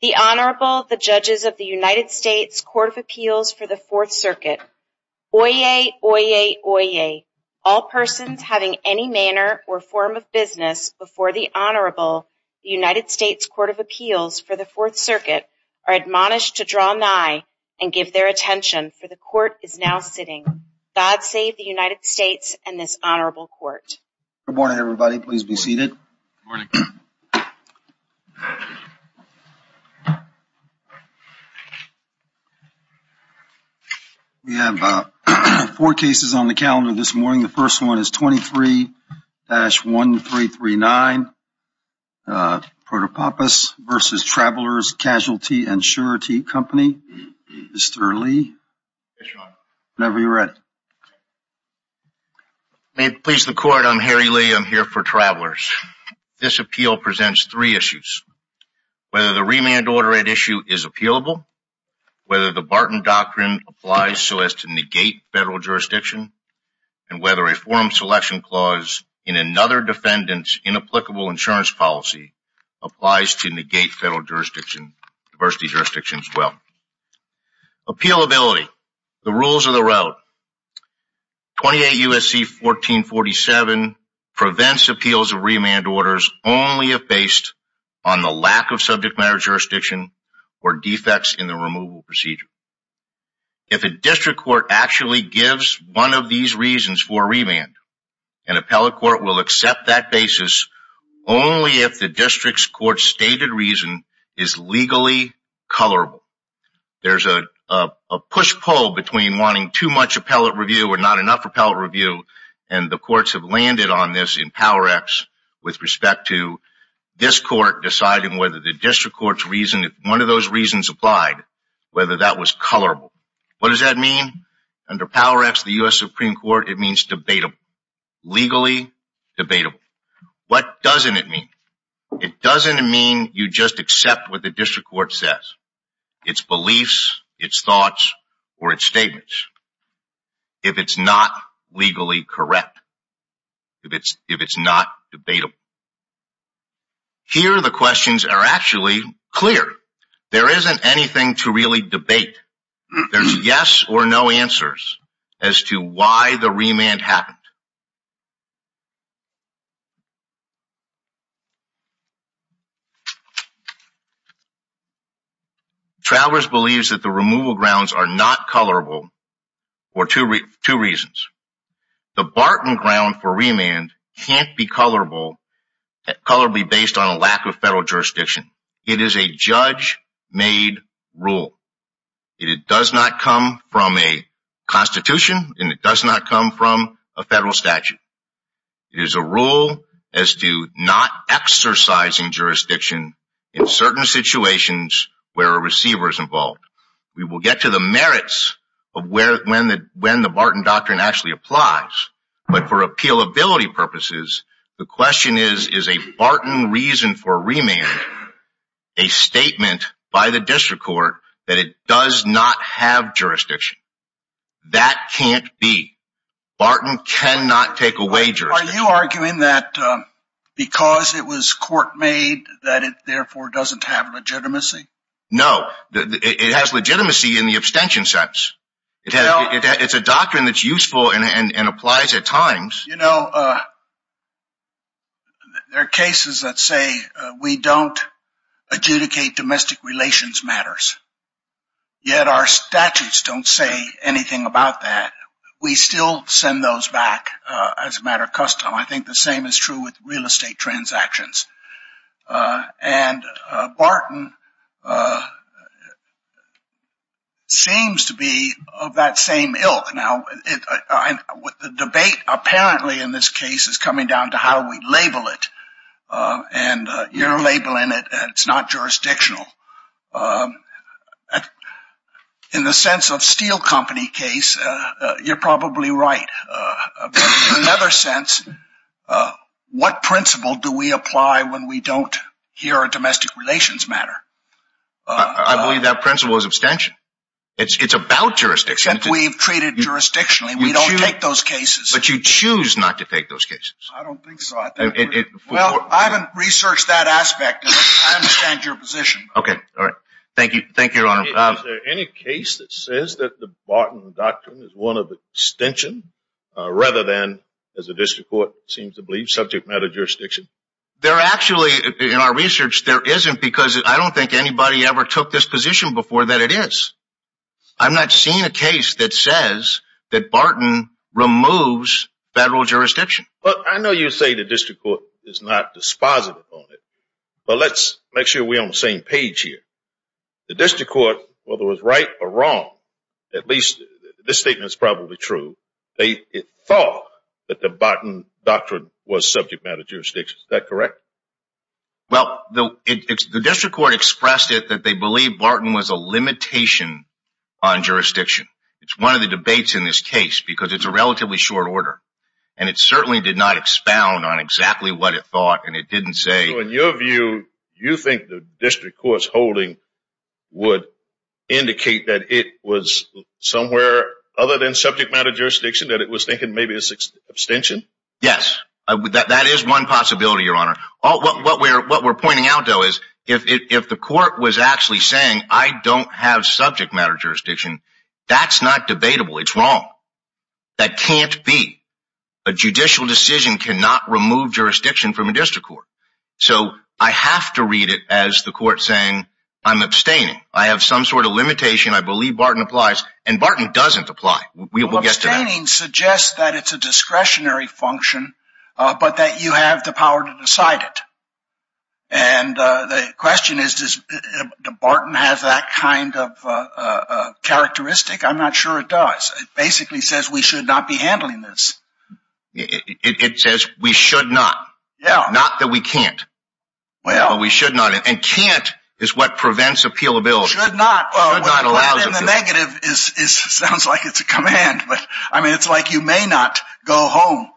The Honorable, the Judges of the United States Court of Appeals for the Fourth Circuit. Oyez! Oyez! Oyez! All persons having any manner or form of business before the Honorable, the United States Court of Appeals for the Fourth Circuit, are admonished to draw nigh and give their attention, for the Court is now sitting. God save the United States and this Honorable Court. Good morning, everybody. Please be seated. Good morning. We have four cases on the calendar this morning. The first one is 23-1339, Protopapas v. Travelers Casualty and Surety Company. Mr. Lee. Yes, Your Honor. Whenever you're ready. May it please the Court, I'm Harry Lee. I'm here for Travelers. This appeal presents three issues. Whether the remand order at issue is appealable, whether the Barton Doctrine applies so as to negate federal jurisdiction, and whether a form selection clause in another defendant's inapplicable insurance policy Appealability, the rules of the road. 28 U.S.C. 1447 prevents appeals of remand orders only if based on the lack of subject matter jurisdiction or defects in the removal procedure. If a district court actually gives one of these reasons for a remand, an appellate court will accept that basis only if the district's court's stated reason is legally colorable. There's a push-pull between wanting too much appellate review or not enough appellate review, and the courts have landed on this in Power Acts with respect to this court deciding whether the district court's reason, if one of those reasons applied, whether that was colorable. What does that mean? Under Power Acts, the U.S. Supreme Court, it means debatable. Legally debatable. What doesn't it mean? It doesn't mean you just accept what the district court says. Its beliefs, its thoughts, or its statements. If it's not legally correct. If it's not debatable. Here, the questions are actually clear. There isn't anything to really debate. There's yes or no answers as to why the remand happened. Travers believes that the removal grounds are not colorable for two reasons. The Barton ground for remand can't be colorably based on a lack of federal jurisdiction. It is a judge-made rule. It does not come from a constitution, and it does not come from a federal statute. It is a rule as to not exercising jurisdiction in certain situations where a receiver is involved. We will get to the merits of when the Barton doctrine actually applies, but for appealability purposes, the question is, is a Barton reason for remand a statement by the district court that it does not have jurisdiction? That can't be. Barton cannot take away jurisdiction. Are you arguing that because it was court-made that it therefore doesn't have legitimacy? No. It has legitimacy in the abstention sense. It's a doctrine that's useful and applies at times. You know, there are cases that say we don't adjudicate domestic relations matters, yet our statutes don't say anything about that. We still send those back as a matter of custom. I think the same is true with real estate transactions. And Barton seems to be of that same ilk. Now, the debate apparently in this case is coming down to how we label it. And you're labeling it, and it's not jurisdictional. In the sense of Steel Company case, you're probably right. In another sense, what principle do we apply when we don't hear a domestic relations matter? I believe that principle is abstention. It's about jurisdiction. We've treated it jurisdictionally. We don't take those cases. But you choose not to take those cases. I don't think so. Well, I haven't researched that aspect. I understand your position. Okay. All right. Thank you, Your Honor. Is there any case that says that the Barton Doctrine is one of abstention, rather than, as the district court seems to believe, subject matter jurisdiction? There actually, in our research, there isn't, because I don't think anybody ever took this position before that it is. I'm not seeing a case that says that Barton removes federal jurisdiction. Well, I know you say the district court is not dispositive on it, but let's make sure we're on the same page here. The district court, whether it was right or wrong, at least this statement is probably true, they thought that the Barton Doctrine was subject matter jurisdiction. Is that correct? Well, the district court expressed it that they believed Barton was a limitation on jurisdiction. It's one of the debates in this case because it's a relatively short order, and it certainly did not expound on exactly what it thought, and it didn't say— would indicate that it was somewhere other than subject matter jurisdiction, that it was thinking maybe it's abstention. Yes, that is one possibility, Your Honor. What we're pointing out, though, is if the court was actually saying, I don't have subject matter jurisdiction, that's not debatable. It's wrong. That can't be. A judicial decision cannot remove jurisdiction from a district court. So I have to read it as the court saying, I'm abstaining. I have some sort of limitation. I believe Barton applies. And Barton doesn't apply. Abstaining suggests that it's a discretionary function, but that you have the power to decide it. And the question is, does Barton have that kind of characteristic? I'm not sure it does. It basically says we should not be handling this. It says we should not. Not that we can't. We should not. And can't is what prevents appealability. Should not. Should not allows it. The negative sounds like it's a command. I mean, it's like you may not go home.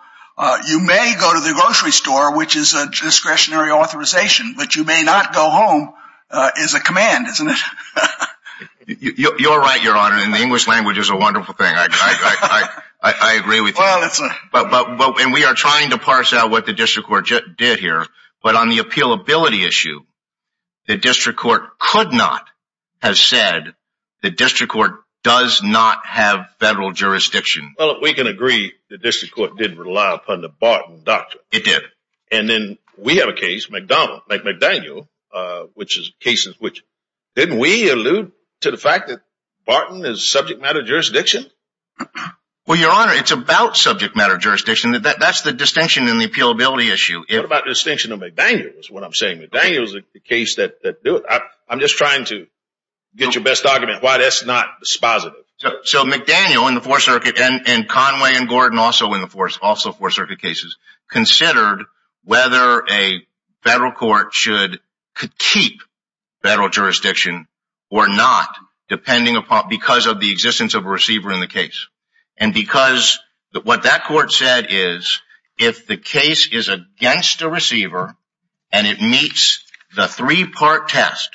You may go to the grocery store, which is a discretionary authorization, but you may not go home is a command, isn't it? You're right, Your Honor. And the English language is a wonderful thing. I agree with you. And we are trying to parse out what the district court did here. But on the appealability issue, the district court could not have said the district court does not have federal jurisdiction. Well, we can agree the district court didn't rely upon the Barton doctrine. It did. And then we have a case, McDaniel, which is a case in which didn't we allude to the fact that Barton is subject matter jurisdiction? Well, Your Honor, it's about subject matter jurisdiction. That's the distinction in the appealability issue. What about the distinction of McDaniel is what I'm saying. McDaniel is the case that do it. I'm just trying to get your best argument why that's not dispositive. So McDaniel in the Fourth Circuit and Conway and Gordon also in the Fourth Circuit cases considered whether a federal court should keep federal jurisdiction or not, depending upon because of the existence of a receiver in the case. And because what that court said is if the case is against a receiver and it meets the three-part test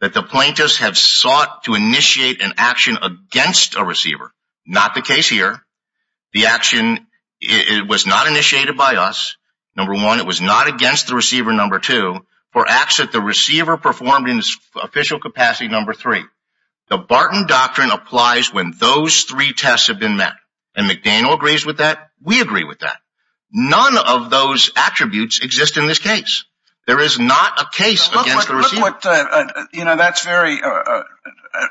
that the plaintiffs have sought to initiate an action against a receiver, not the case here, the action was not initiated by us, number one. It was not against the receiver, number two, for acts that the receiver performed in its official capacity, number three. The Barton Doctrine applies when those three tests have been met. And McDaniel agrees with that. We agree with that. None of those attributes exist in this case. There is not a case against the receiver. You know, that's very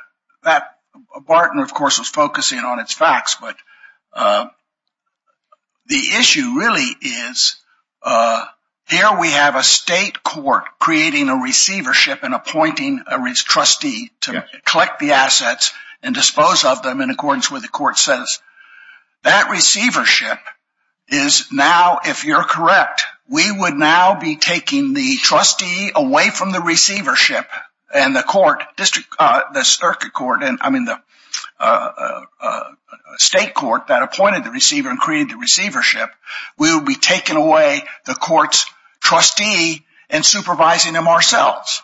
– Barton, of course, was focusing on its facts. But the issue really is here we have a state court creating a receivership and appointing a trustee to collect the assets and dispose of them in accordance with what the court says. That receivership is now, if you're correct, we would now be taking the trustee away from the receivership and the court, the circuit court, I mean, the state court that appointed the receiver and created the receivership. We would be taking away the court's trustee and supervising them ourselves.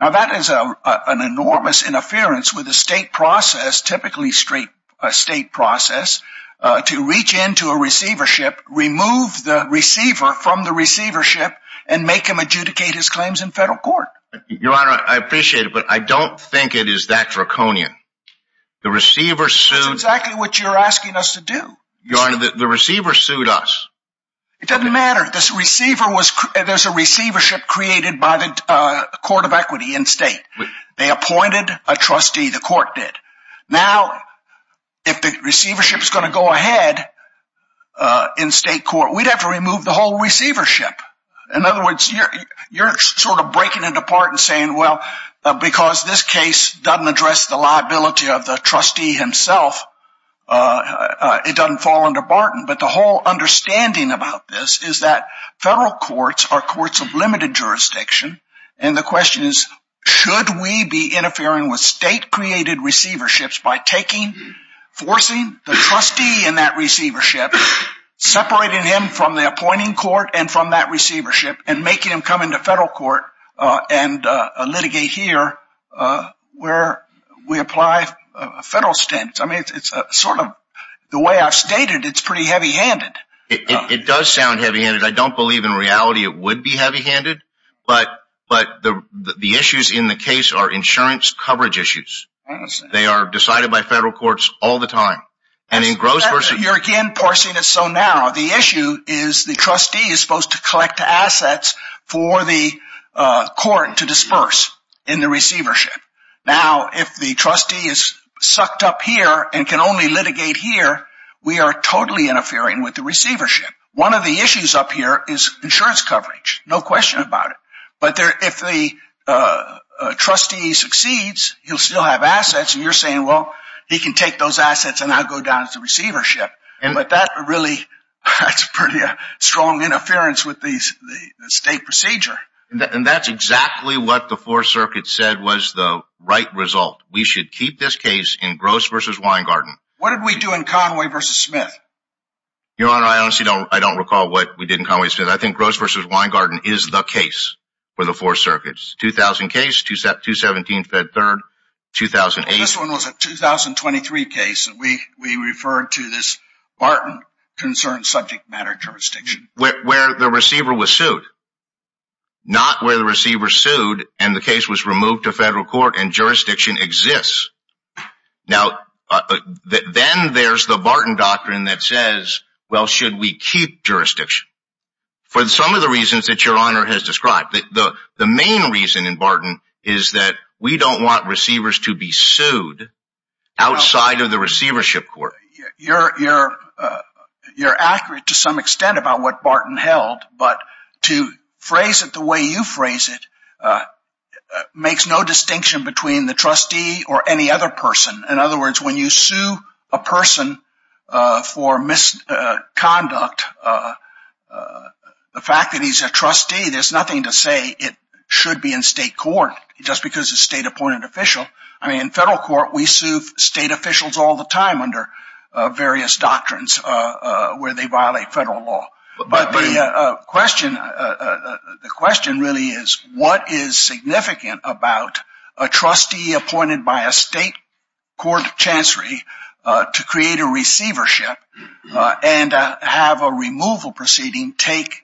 Now, that is an enormous interference with the state process, typically a state process, to reach into a receivership, remove the receiver from the receivership, and make him adjudicate his claims in federal court. Your Honor, I appreciate it, but I don't think it is that draconian. The receiver sued – That's exactly what you're asking us to do. Your Honor, the receiver sued us. It doesn't matter. There's a receivership created by the court of equity in state. They appointed a trustee. The court did. Now, if the receivership is going to go ahead in state court, we'd have to remove the whole receivership. In other words, you're sort of breaking it apart and saying, well, because this case doesn't address the liability of the trustee himself, it doesn't fall under Barton. But the whole understanding about this is that federal courts are courts of limited jurisdiction. And the question is, should we be interfering with state-created receiverships by taking, forcing the trustee in that receivership, separating him from the appointing court and from that receivership, and making him come into federal court and litigate here where we apply federal standards? I mean, it's sort of – the way I've stated it, it's pretty heavy-handed. It does sound heavy-handed. I don't believe in reality it would be heavy-handed. But the issues in the case are insurance coverage issues. They are decided by federal courts all the time. And in gross – You're again forcing it so now. The issue is the trustee is supposed to collect the assets for the court to disperse in the receivership. Now, if the trustee is sucked up here and can only litigate here, we are totally interfering with the receivership. One of the issues up here is insurance coverage. No question about it. But if the trustee succeeds, he'll still have assets. And you're saying, well, he can take those assets and not go down to the receivership. But that really – that's pretty strong interference with the state procedure. And that's exactly what the Fourth Circuit said was the right result. We should keep this case in Gross v. Weingarten. What did we do in Conway v. Smith? Your Honor, I honestly don't recall what we did in Conway v. Smith. I think Gross v. Weingarten is the case for the Fourth Circuit. 2000 case, 217 Fed Third, 2008 – This one was a 2023 case. We referred to this Barton concerned subject matter jurisdiction. Where the receiver was sued. Not where the receiver sued and the case was removed to federal court and jurisdiction exists. Now, then there's the Barton doctrine that says, well, should we keep jurisdiction? For some of the reasons that Your Honor has described. The main reason in Barton is that we don't want receivers to be sued outside of the receivership court. You're accurate to some extent about what Barton held. But to phrase it the way you phrase it makes no distinction between the trustee or any other person. In other words, when you sue a person for misconduct, the fact that he's a trustee, there's nothing to say it should be in state court. Just because it's a state appointed official. I mean, in federal court, we sue state officials all the time under various doctrines where they violate federal law. But the question really is what is significant about a trustee appointed by a state court chancery to create a receivership and have a removal proceeding take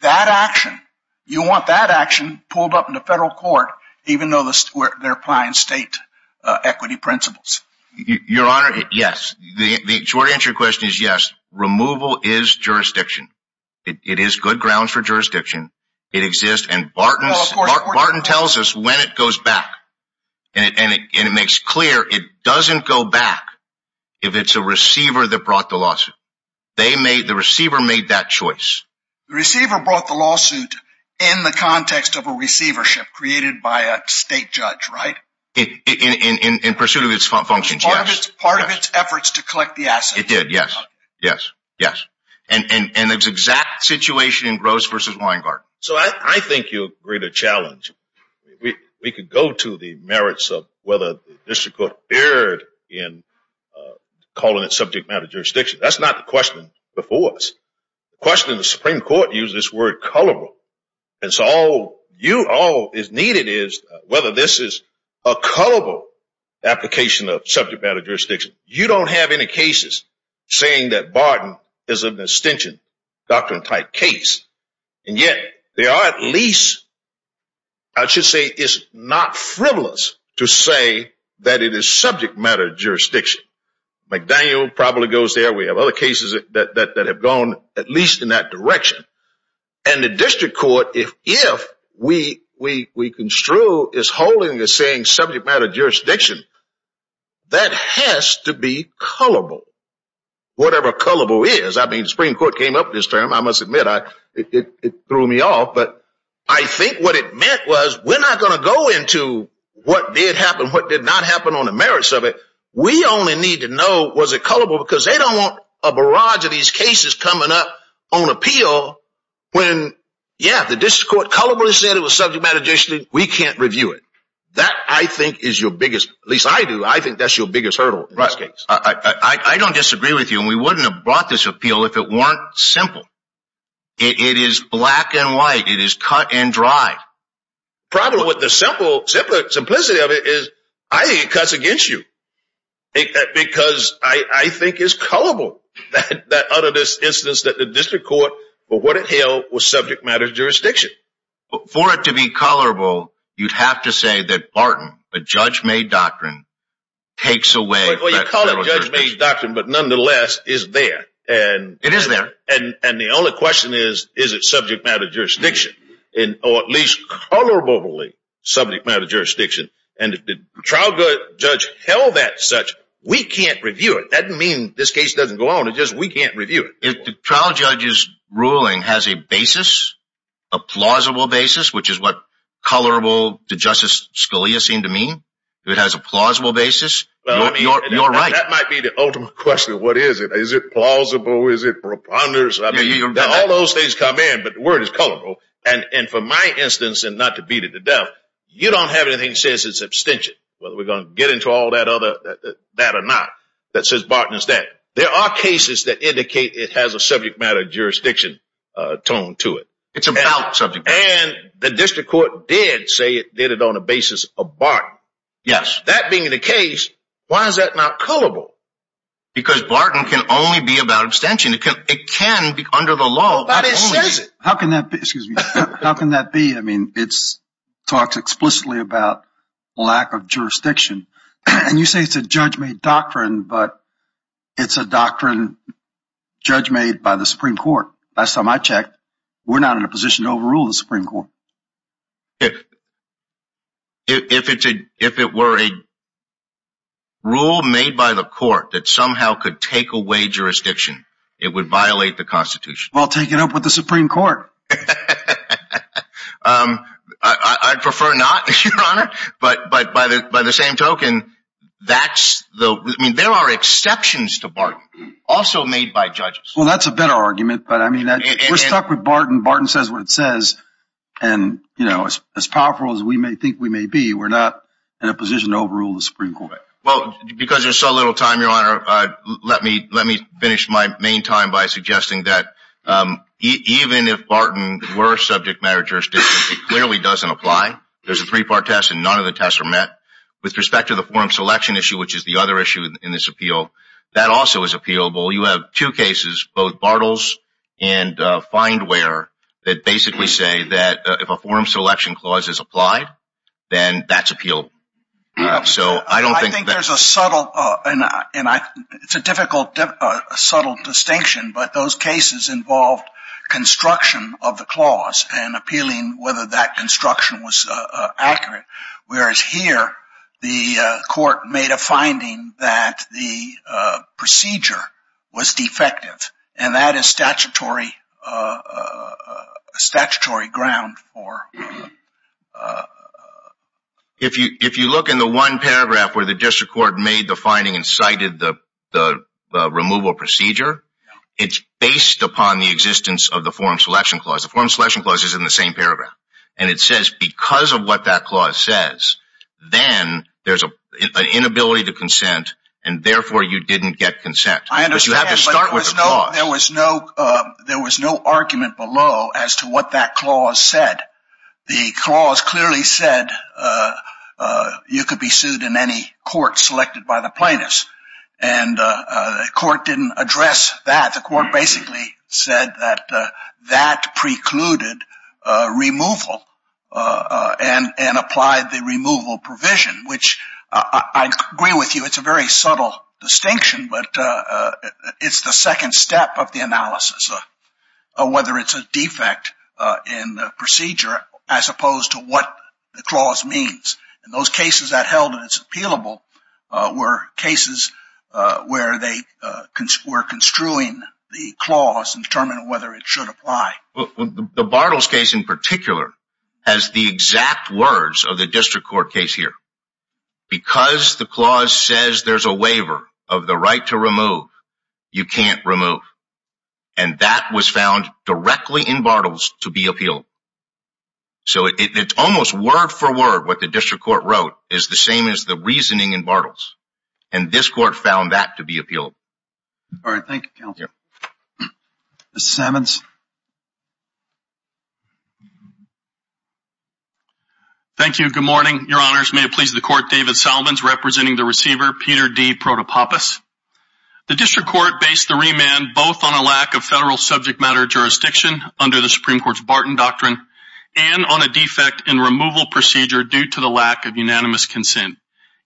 that action. You want that action pulled up in the federal court, even though they're applying state equity principles. Your Honor, yes. The short answer to your question is yes. Removal is jurisdiction. It is good grounds for jurisdiction. It exists and Barton tells us when it goes back. And it makes clear it doesn't go back if it's a receiver that brought the lawsuit. The receiver made that choice. The receiver brought the lawsuit in the context of a receivership created by a state judge, right? In pursuit of its functions, yes. Part of its efforts to collect the assets. It did, yes, yes, yes. And the exact situation in Gross v. Weingarten. So I think you agreed a challenge. We could go to the merits of whether the district court erred in calling it subject matter jurisdiction. That's not the question before us. The question of the Supreme Court uses this word, colorable. And so all is needed is whether this is a colorable application of subject matter jurisdiction. You don't have any cases saying that Barton is an extension doctrine type case. And yet, there are at least, I should say, it's not frivolous to say that it is subject matter jurisdiction. McDaniel probably goes there. We have other cases that have gone at least in that direction. And the district court, if we construe as holding the same subject matter jurisdiction, that has to be colorable. Whatever colorable is. I mean, the Supreme Court came up with this term. I must admit, it threw me off. But I think what it meant was we're not going to go into what did happen, what did not happen on the merits of it. We only need to know, was it colorable? Because they don't want a barrage of these cases coming up on appeal when, yeah, the district court colorably said it was subject matter jurisdiction. We can't review it. That, I think, is your biggest, at least I do, I think that's your biggest hurdle in this case. I don't disagree with you. And we wouldn't have brought this appeal if it weren't simple. It is black and white. It is cut and dry. Problem with the simplicity of it is, I think it cuts against you. Because I think it's colorable, that utterance instance that the district court, for what it held, was subject matter jurisdiction. For it to be colorable, you'd have to say that Barton, a judge-made doctrine, takes away federal jurisdiction. Well, you call it a judge-made doctrine, but nonetheless, it's there. It is there. And the only question is, is it subject matter jurisdiction? Or at least colorably subject matter jurisdiction. And if the trial judge held that such, we can't review it. That doesn't mean this case doesn't go on. It's just we can't review it. If the trial judge's ruling has a basis, a plausible basis, which is what colorable to Justice Scalia seemed to mean, it has a plausible basis, you're right. That might be the ultimate question. What is it? Is it plausible? Is it preponderance? All those things come in, but the word is colorable. And for my instance, and not to beat it to death, you don't have anything that says it's abstention, whether we're going to get into all that or not, that says Barton is dead. There are cases that indicate it has a subject matter jurisdiction tone to it. It's about subject matter. And the district court did say it did it on the basis of Barton. Yes. That being the case, why is that not colorable? Because Barton can only be about abstention. It can be under the law. But it says it. How can that be? How can that be? I mean, it talks explicitly about lack of jurisdiction. And you say it's a judge-made doctrine, but it's a doctrine judge-made by the Supreme Court. Last time I checked, we're not in a position to overrule the Supreme Court. If it were a rule made by the court that somehow could take away jurisdiction, it would violate the Constitution. Well, take it up with the Supreme Court. I'd prefer not, Your Honor. But by the same token, there are exceptions to Barton, also made by judges. Well, that's a better argument. But, I mean, we're stuck with Barton. Barton says what it says. And, you know, as powerful as we may think we may be, we're not in a position to overrule the Supreme Court. Well, because there's so little time, Your Honor, let me finish my main time by suggesting that even if Barton were subject matter jurisdiction, it clearly doesn't apply. There's a three-part test, and none of the tests are met. With respect to the forum selection issue, which is the other issue in this appeal, that also is appealable. You have two cases, both Bartles and Findware, that basically say that if a forum selection clause is applied, then that's appealable. I think there's a subtle, and it's a difficult, subtle distinction, but those cases involved construction of the clause and appealing whether that construction was accurate. Whereas here, the court made a finding that the procedure was defective, and that is statutory ground for... If you look in the one paragraph where the district court made the finding and cited the removal procedure, it's based upon the existence of the forum selection clause. The forum selection clause is in the same paragraph. It says because of what that clause says, then there's an inability to consent, and therefore you didn't get consent. I understand, but there was no argument below as to what that clause said. The clause clearly said you could be sued in any court selected by the plaintiffs, and the court didn't address that. The court basically said that that precluded removal and applied the removal provision, which I agree with you. It's a very subtle distinction, but it's the second step of the analysis of whether it's a defect in the procedure as opposed to what the clause means. Those cases that held it as appealable were cases where they were construing the clause and determining whether it should apply. The Bartles case in particular has the exact words of the district court case here. Because the clause says there's a waiver of the right to remove, you can't remove, and that was found directly in Bartles to be appealed. It's almost word for word what the district court wrote is the same as the reasoning in Bartles, and this court found that to be appealable. Thank you, counsel. Mr. Sammons. Thank you. Good morning, your honors. May it please the court, David Salmons representing the receiver, Peter D. Protopappas. The district court based the remand both on a lack of federal subject matter jurisdiction under the Supreme Court's Barton Doctrine, and on a defect in removal procedure due to the lack of unanimous consent.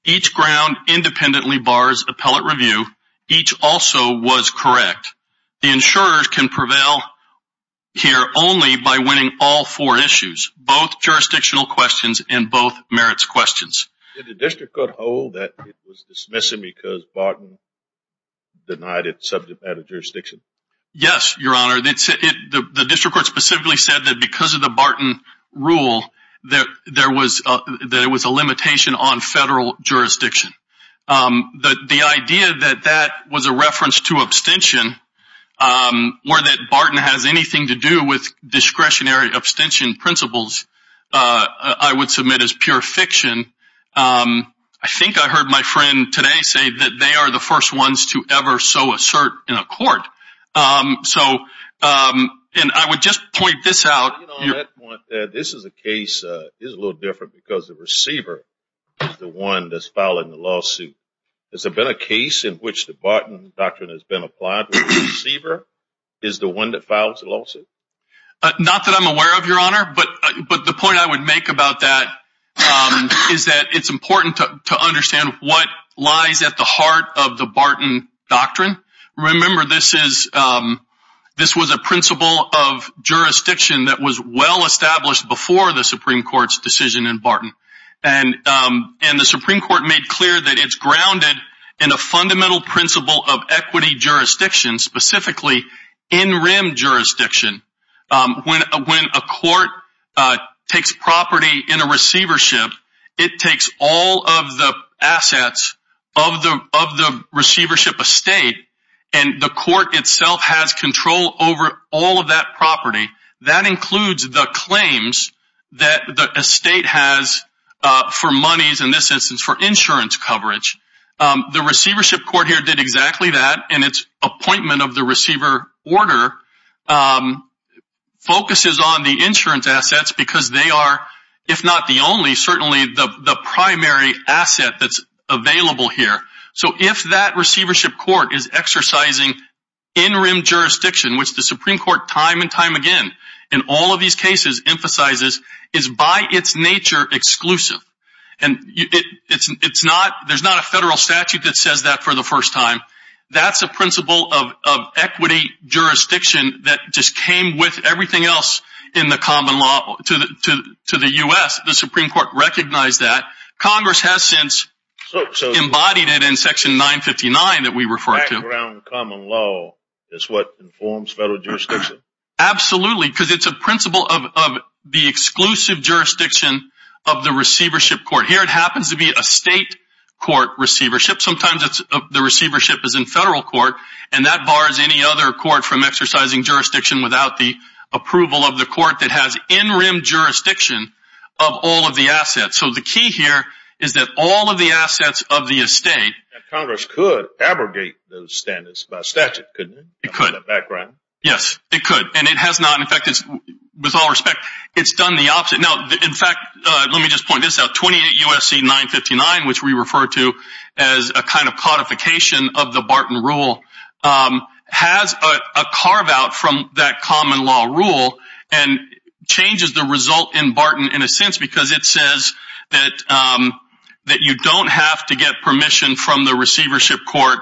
Each ground independently bars appellate review. Each also was correct. The insurers can prevail here only by winning all four issues, both jurisdictional questions and both merits questions. Did the district court hold that it was dismissive because Barton denied its subject matter jurisdiction? Yes, your honor. The district court specifically said that because of the Barton rule that there was a limitation on federal jurisdiction. The idea that that was a reference to abstention, or that Barton has anything to do with discretionary abstention principles, I would submit is pure fiction. I think I heard my friend today say that they are the first ones to ever so assert in a court. So, and I would just point this out. This is a case that is a little different because the receiver is the one that's filing the lawsuit. Has there been a case in which the Barton Doctrine has been applied where the receiver is the one that files the lawsuit? Not that I'm aware of, your honor, but the point I would make about that is that it's important to understand what lies at the heart of the Barton Doctrine. Remember, this was a principle of jurisdiction that was well established before the Supreme Court's decision in Barton. And the Supreme Court made clear that it's grounded in a fundamental principle of equity jurisdiction, specifically in-rim jurisdiction. When a court takes property in a receivership, it takes all of the assets of the receivership estate, and the court itself has control over all of that property. That includes the claims that the estate has for monies, in this instance, for insurance coverage. The receivership court here did exactly that, and its appointment of the receiver order focuses on the insurance assets because they are, if not the only, certainly the primary asset that's available here. So if that receivership court is exercising in-rim jurisdiction, which the Supreme Court time and time again in all of these cases emphasizes is by its nature exclusive, and there's not a federal statute that says that for the first time, that's a principle of equity jurisdiction that just came with everything else in the common law to the U.S. The Supreme Court recognized that. Congress has since embodied it in section 959 that we refer to. Background common law is what informs federal jurisdiction. Absolutely, because it's a principle of the exclusive jurisdiction of the receivership court. Here it happens to be a state court receivership. Sometimes the receivership is in federal court, and that bars any other court from exercising jurisdiction without the approval of the court that has in-rim jurisdiction of all of the assets. So the key here is that all of the assets of the estate... Congress could abrogate those standards by statute, couldn't it? It could. Yes, it could. And it has not. In fact, with all respect, it's done the opposite. Let me just point this out. 28 U.S.C. 959, which we refer to as a kind of codification of the Barton Rule, has a carve-out from that common law rule and changes the result in Barton in a sense because it says that you don't have to get permission from the receivership court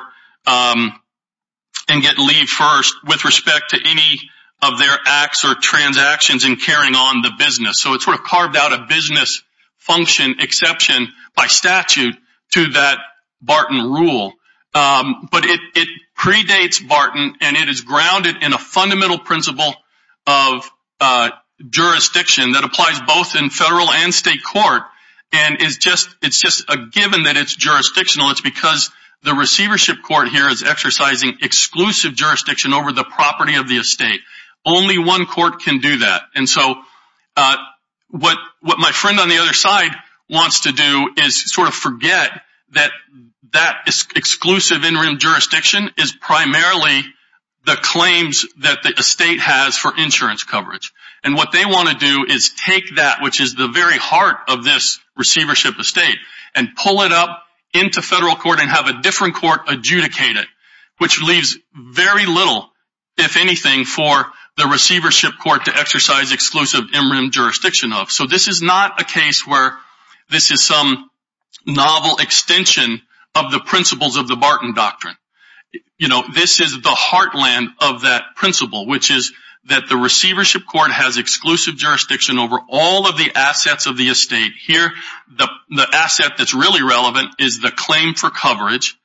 and get leave first with respect to any of their acts or transactions in carrying on the business. So it sort of carved out a business function exception by statute to that Barton Rule. But it predates Barton, and it is grounded in a fundamental principle of jurisdiction that applies both in federal and state court. And it's just a given that it's jurisdictional. It's because the receivership court here is exercising exclusive jurisdiction over the property of the estate. Only one court can do that. And so what my friend on the other side wants to do is sort of forget that that exclusive interim jurisdiction is primarily the claims that the estate has for insurance coverage. And what they want to do is take that, which is the very heart of this receivership estate, and pull it up into federal court and have a different court adjudicate it, which leaves very little, if anything, for the receivership court to exercise exclusive interim jurisdiction of. So this is not a case where this is some novel extension of the principles of the Barton Doctrine. This is the heartland of that principle, which is that the receivership court has exclusive jurisdiction over all of the assets of the estate. Here, the asset that's really relevant is the claim for coverage.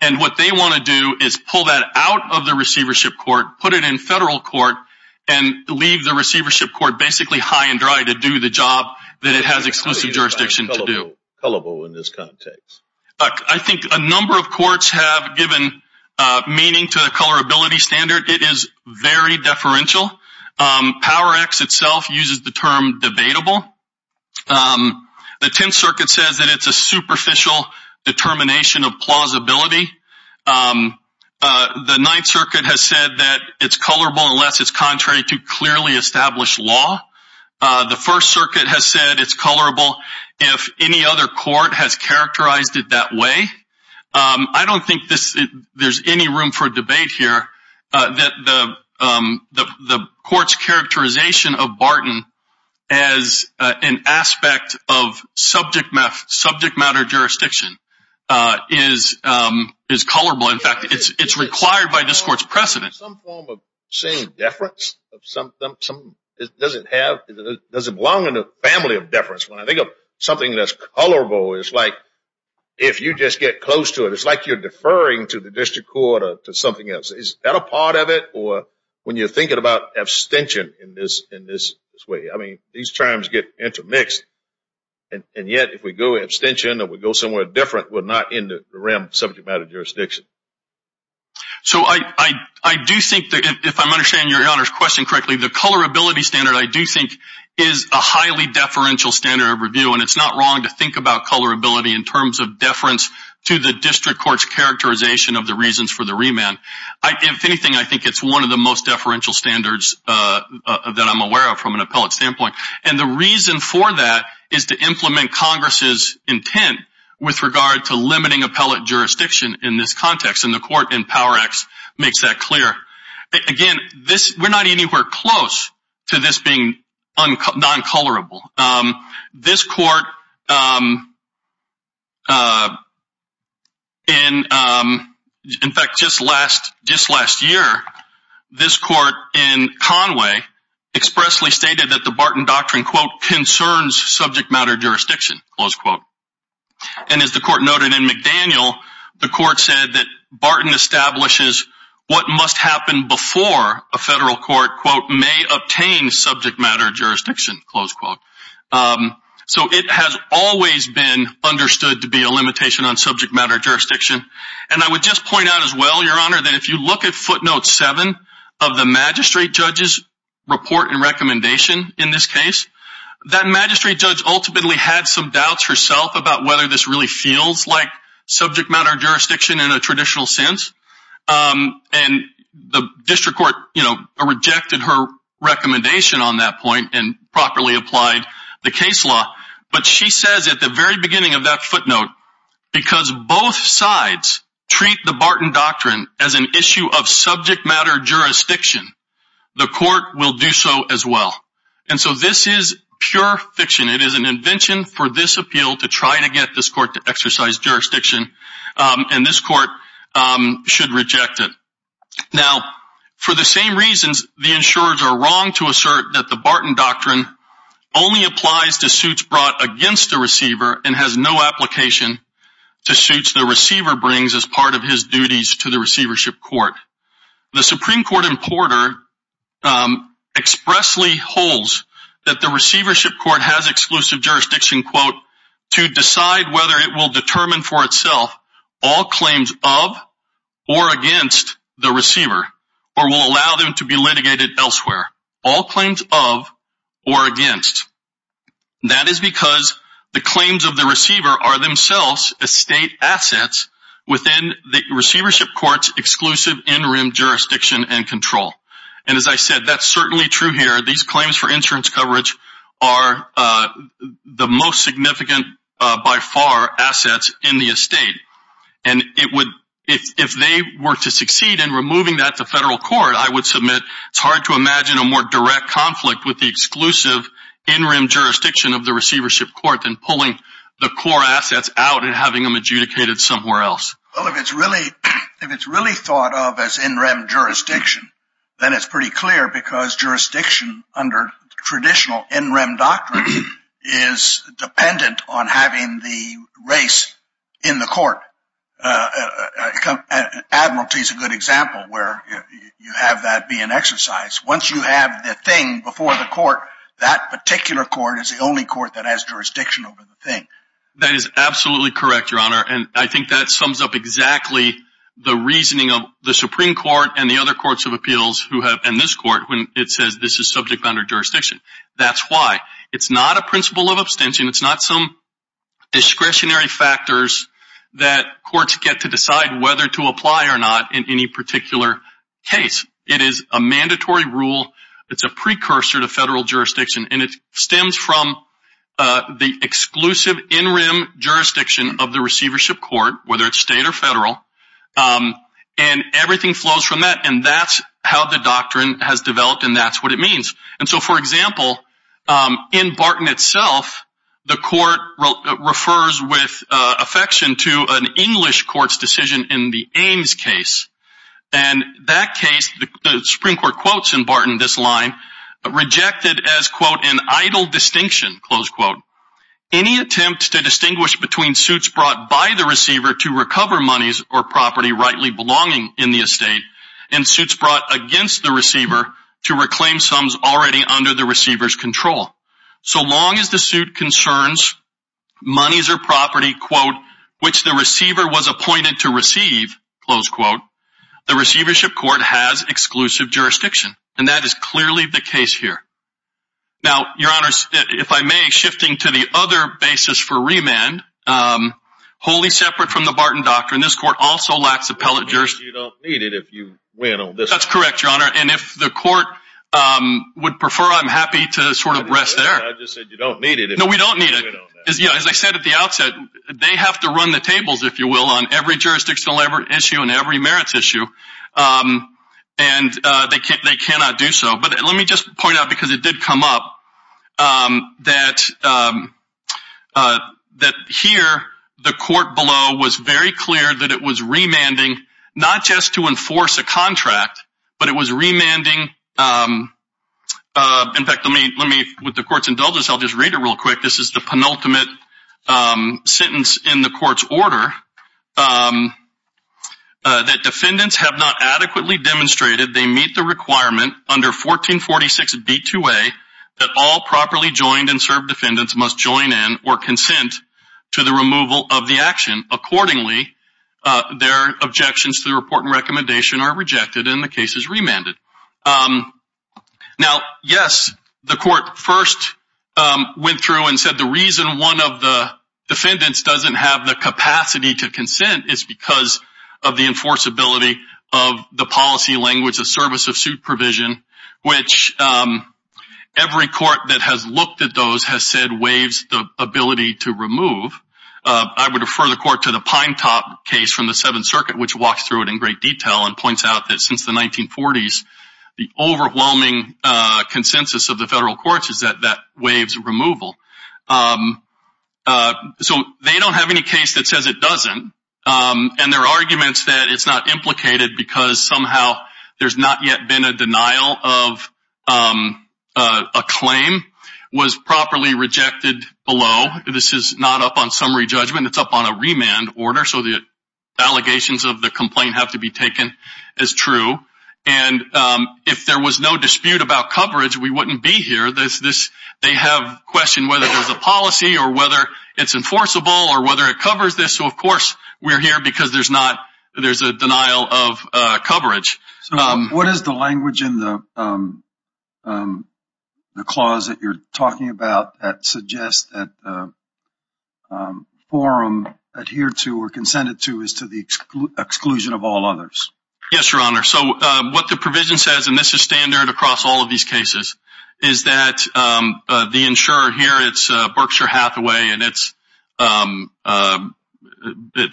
And what they want to do is pull that out of the receivership court, put it in federal court, and leave the receivership court basically high and dry to do the job that it has exclusive jurisdiction to do. I think a number of courts have given meaning to the colorability standard. It is very deferential. Power X itself uses the term debatable. The Tenth Circuit says that it's a superficial determination of plausibility. The Ninth Circuit has said that it's colorable unless it's contrary to clearly established law. The First Circuit has said it's colorable if any other court has characterized it that way. I don't think there's any room for debate here. The court's characterization of Barton as an aspect of subject matter jurisdiction is colorable. In fact, it's required by this court's precedent. Is there some form of saying deference? Does it belong in the family of deference? When I think of something that's colorable, it's like if you just get close to it, it's like you're deferring to the district court or to something else. Is that a part of it? Or when you're thinking about abstention in this way, these terms get intermixed. And yet, if we go abstention or we go somewhere different, we're not in the realm of subject matter jurisdiction. So I do think that if I'm understanding Your Honor's question correctly, the colorability standard I do think is a highly deferential standard of review. And it's not wrong to think about colorability in terms of deference to the district court's characterization of the reasons for the remand. If anything, I think it's one of the most deferential standards that I'm aware of from an appellate standpoint. And the reason for that is to implement Congress's intent with regard to limiting appellate jurisdiction in this context. And the court in Power Act makes that clear. Again, we're not anywhere close to this being non-colorable. This court, in fact, just last year, this court in Conway expressly stated that the Barton Doctrine, quote, concerns subject matter jurisdiction, close quote. And as the court noted in McDaniel, the court said that Barton establishes what must happen before a federal court, quote, may obtain subject matter jurisdiction, close quote. So it has always been understood to be a limitation on subject matter jurisdiction. And I would just point out as well, Your Honor, that if you look at footnote 7 of the magistrate judge's report and recommendation in this case, that magistrate judge ultimately had some doubts herself about whether this really feels like subject matter jurisdiction in a traditional sense. And the district court, you know, rejected her recommendation on that point and properly applied the case law. But she says at the very beginning of that footnote, because both sides treat the Barton Doctrine as an issue of subject matter jurisdiction, the court will do so as well. And so this is pure fiction. It is an invention for this appeal to try to get this court to exercise jurisdiction. And this court should reject it. Now, for the same reasons, the insurers are wrong to assert that the Barton Doctrine only applies to suits brought against the receiver and has no application to suits the receiver brings as part of his duties to the receivership court. The Supreme Court importer expressly holds that the receivership court has exclusive jurisdiction, quote, to decide whether it will determine for itself all claims of or against the receiver or will allow them to be litigated elsewhere. All claims of or against. That is because the claims of the receiver are themselves estate assets within the receivership court's exclusive interim jurisdiction and control. And as I said, that's certainly true here. These claims for insurance coverage are the most significant by far assets in the estate. And it would if they were to succeed in removing that the federal court, I would submit it's hard to imagine a more direct conflict with the exclusive interim jurisdiction of the receivership court than pulling the core assets out and having them adjudicated somewhere else. If it's really thought of as interim jurisdiction, then it's pretty clear because jurisdiction under traditional interim doctrine is dependent on having the race in the court. Admiralty is a good example where you have that be an exercise. Once you have the thing before the court, that particular court is the only court that has jurisdiction over the thing. That is absolutely correct, Your Honor. And I think that sums up exactly the reasoning of the Supreme Court and the other courts of appeals and this court when it says this is subject under jurisdiction. That's why. It's not a principle of abstention. It's not some discretionary factors that courts get to decide whether to apply or not in any particular case. It is a mandatory rule. It's a precursor to federal jurisdiction. And it stems from the exclusive interim jurisdiction of the receivership court, whether it's state or federal. And everything flows from that. And that's how the doctrine has developed and that's what it means. And so, for example, in Barton itself, the court refers with affection to an English court's decision in the Ames case. And that case, the Supreme Court quotes in Barton this line, rejected as, quote, an idle distinction, close quote, any attempt to distinguish between suits brought by the receiver to recover monies or property rightly belonging in the estate and suits brought against the receiver to reclaim sums already under the receiver's control. So long as the suit concerns monies or property, quote, which the receiver was appointed to receive, close quote, the receivership court has exclusive jurisdiction. And that is clearly the case here. Now, Your Honor, if I may, shifting to the other basis for remand, wholly separate from the Barton doctrine, this court also lacks appellate jurisdiction. You don't need it if you win on this one. That's correct, Your Honor. And if the court would prefer, I'm happy to sort of rest there. I just said you don't need it if you win on that. No, we don't need it. As I said at the outset, they have to run the tables, if you will, on every jurisdiction issue and every merits issue. And they cannot do so. But let me just point out, because it did come up, that here the court below was very clear that it was remanding, not just to enforce a contract, but it was remanding. In fact, let me, with the court's indulgence, I'll just read it real quick. This is the penultimate sentence in the court's order that defendants have not adequately demonstrated they meet the requirement under 1446B2A that all properly joined and served defendants must join in or consent to the removal of the action. Accordingly, their objections to the report and recommendation are rejected and the case is remanded. Now, yes, the court first went through and said the reason one of the defendants doesn't have the capacity to consent is because of the enforceability of the policy language of service of supervision, which every court that has looked at those has said waives the ability to remove. I would refer the court to the Pinetop case from the Seventh Circuit, which walks through it in great detail and points out that since the 1940s, the overwhelming consensus of the federal courts is that that waives removal. So they don't have any case that says it doesn't, and their arguments that it's not implicated because somehow there's not yet been a denial of a claim was properly rejected below. This is not up on summary judgment. It's up on a remand order, so the allegations of the complaint have to be taken as true. And if there was no dispute about coverage, we wouldn't be here. They have questioned whether there's a policy or whether it's enforceable or whether it covers this. So, of course, we're here because there's a denial of coverage. What is the language in the clause that you're talking about that suggests that forum adhered to or consented to is to the exclusion of all others? Yes, Your Honor. So what the provision says, and this is standard across all of these cases, is that the insurer here, it's Berkshire Hathaway, and at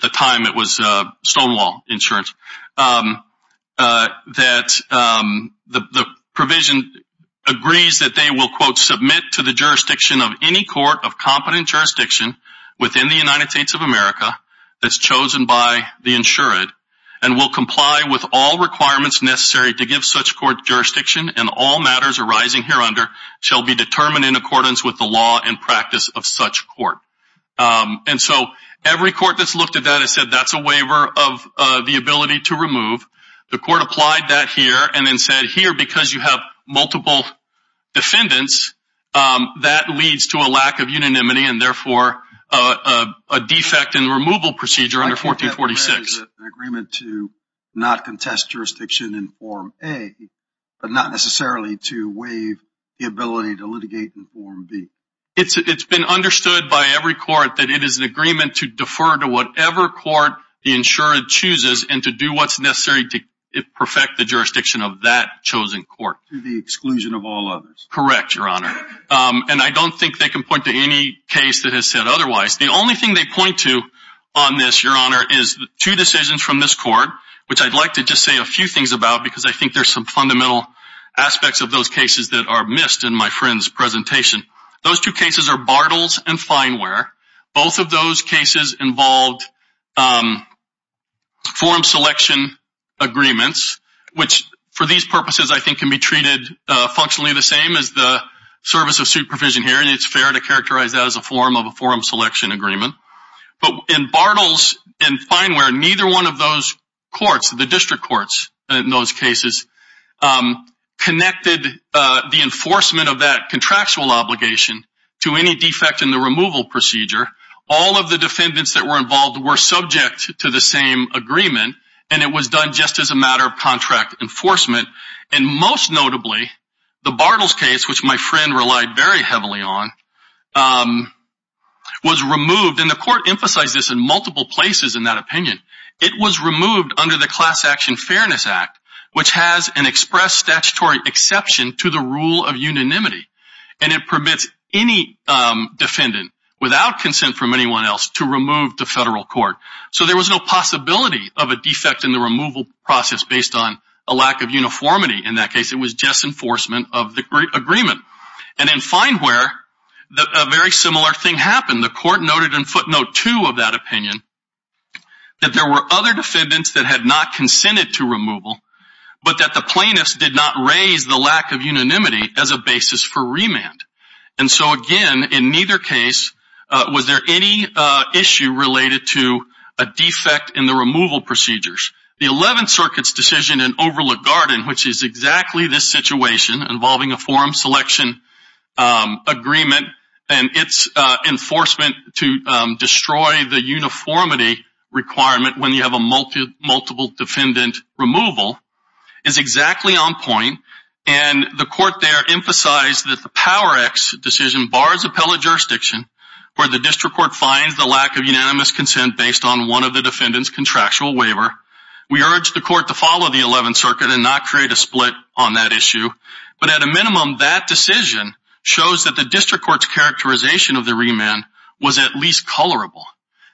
the time it was Stonewall Insurance, that the provision agrees that they will, quote, submit to the jurisdiction of any court of competent jurisdiction within the United States of America that's chosen by the insured and will comply with all requirements necessary to give such court jurisdiction and all matters arising hereunder shall be determined in accordance with the law and practice of such court. And so every court that's looked at that has said that's a waiver of the ability to remove. The court applied that here and then said here, because you have multiple defendants, that leads to a lack of unanimity and, therefore, a defect in the removal procedure under 1446. I think that bears an agreement to not contest jurisdiction in Form A, but not necessarily to waive the ability to litigate in Form B. It's been understood by every court that it is an agreement to defer to whatever court the insured chooses and to do what's necessary to perfect the jurisdiction of that chosen court. To the exclusion of all others. Correct, Your Honor. And I don't think they can point to any case that has said otherwise. The only thing they point to on this, Your Honor, is two decisions from this court, which I'd like to just say a few things about because I think there's some fundamental aspects of those cases that are missed in my friend's presentation. Those two cases are Bartles and Fineware. Both of those cases involved form selection agreements, which for these purposes I think can be treated functionally the same as the service of supervision here, and it's fair to characterize that as a form of a forum selection agreement. But in Bartles and Fineware, neither one of those courts, the district courts in those cases, connected the enforcement of that contractual obligation to any defect in the removal procedure. All of the defendants that were involved were subject to the same agreement, and it was done just as a matter of contract enforcement. And most notably, the Bartles case, which my friend relied very heavily on, was removed, and the court emphasized this in multiple places in that opinion. It was removed under the Class Action Fairness Act, which has an express statutory exception to the rule of unanimity, and it permits any defendant without consent from anyone else to remove to federal court. So there was no possibility of a defect in the removal process based on a lack of uniformity in that case. It was just enforcement of the agreement. And in Fineware, a very similar thing happened. The court noted in footnote 2 of that opinion that there were other defendants that had not consented to removal, but that the plaintiffs did not raise the lack of unanimity as a basis for remand. And so, again, in neither case was there any issue related to a defect in the removal procedures. The Eleventh Circuit's decision in Overlook Garden, which is exactly this situation involving a form selection agreement and its enforcement to destroy the uniformity requirement when you have a multiple defendant removal, is exactly on point, and the court there emphasized that the Power-X decision bars appellate jurisdiction where the district court finds the lack of unanimous consent based on one of the defendant's contractual waiver. We urge the court to follow the Eleventh Circuit and not create a split on that issue. But at a minimum, that decision shows that the district court's characterization of the remand was at least colorable.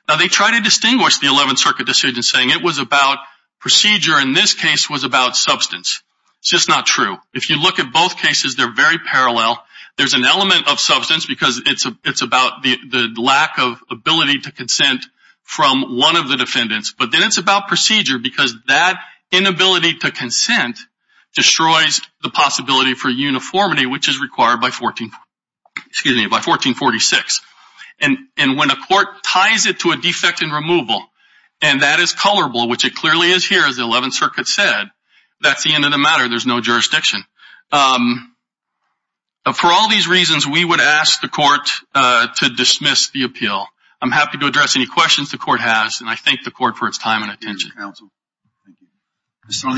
Now, they try to distinguish the Eleventh Circuit decision saying it was about procedure. In this case, it was about substance. It's just not true. If you look at both cases, they're very parallel. There's an element of substance because it's about the lack of ability to consent from one of the defendants, but then it's about procedure because that inability to consent destroys the possibility for uniformity, which is required by 1446. And when a court ties it to a defect in removal, and that is colorable, which it clearly is here, as the Eleventh Circuit said, that's the end of the matter. There's no jurisdiction. For all these reasons, we would ask the court to dismiss the appeal. I'm happy to address any questions the court has, and I thank the court for its time and attention. Thank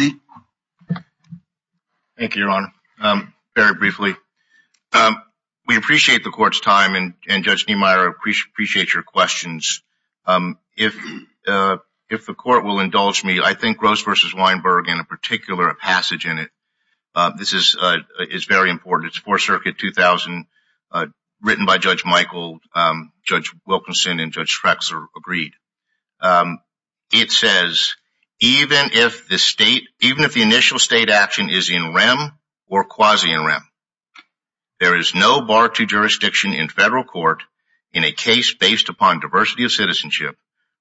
you. Thank you, Your Honor. Very briefly. We appreciate the court's time, and Judge Niemeyer, I appreciate your questions. If the court will indulge me, I think Rose v. Weinberg, in a particular passage in it, this is very important. It's Fourth Circuit 2000, written by Judge Michael, Judge Wilkinson, and Judge Schrexler agreed. It says, even if the initial state action is in rem or quasi-in rem, there is no bar to jurisdiction in federal court in a case based upon diversity of citizenship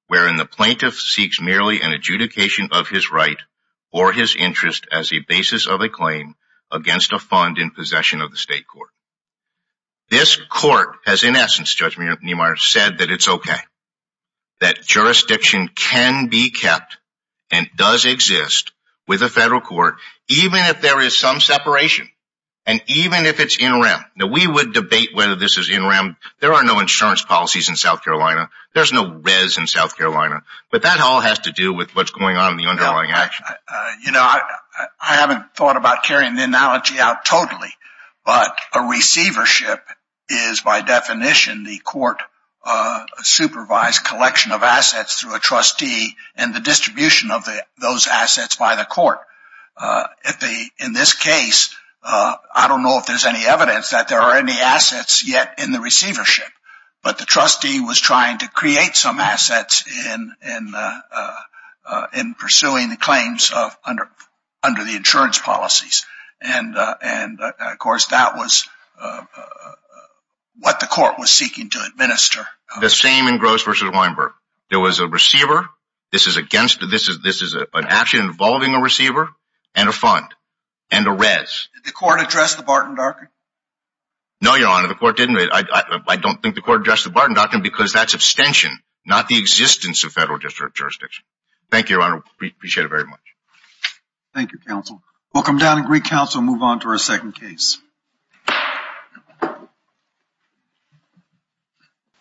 wherein the plaintiff seeks merely an adjudication of his right or his interest as a basis of a claim against a fund in possession of the state court. This court has, in essence, Judge Niemeyer, said that it's okay, that jurisdiction can be kept and does exist with a federal court, even if there is some separation, and even if it's in rem. Now, we would debate whether this is in rem. There are no insurance policies in South Carolina. There's no res in South Carolina. But that all has to do with what's going on in the underlying action. I haven't thought about carrying the analogy out totally, but a receivership is, by definition, the court-supervised collection of assets through a trustee and the distribution of those assets by the court. In this case, I don't know if there's any evidence that there are any assets yet in the receivership, but the trustee was trying to create some assets in pursuing the claims under the insurance policies. And, of course, that was what the court was seeking to administer. The same in Gross v. Weinberg. There was a receiver. This is an action involving a receiver and a fund and a res. Did the court address the Barton Darker? No, Your Honor, the court didn't. I don't think the court addressed the Barton Darker because that's abstention, not the existence of federal jurisdiction. Thank you, Your Honor. We appreciate it very much. Thank you, counsel. We'll come down and recounsel and move on to our second case.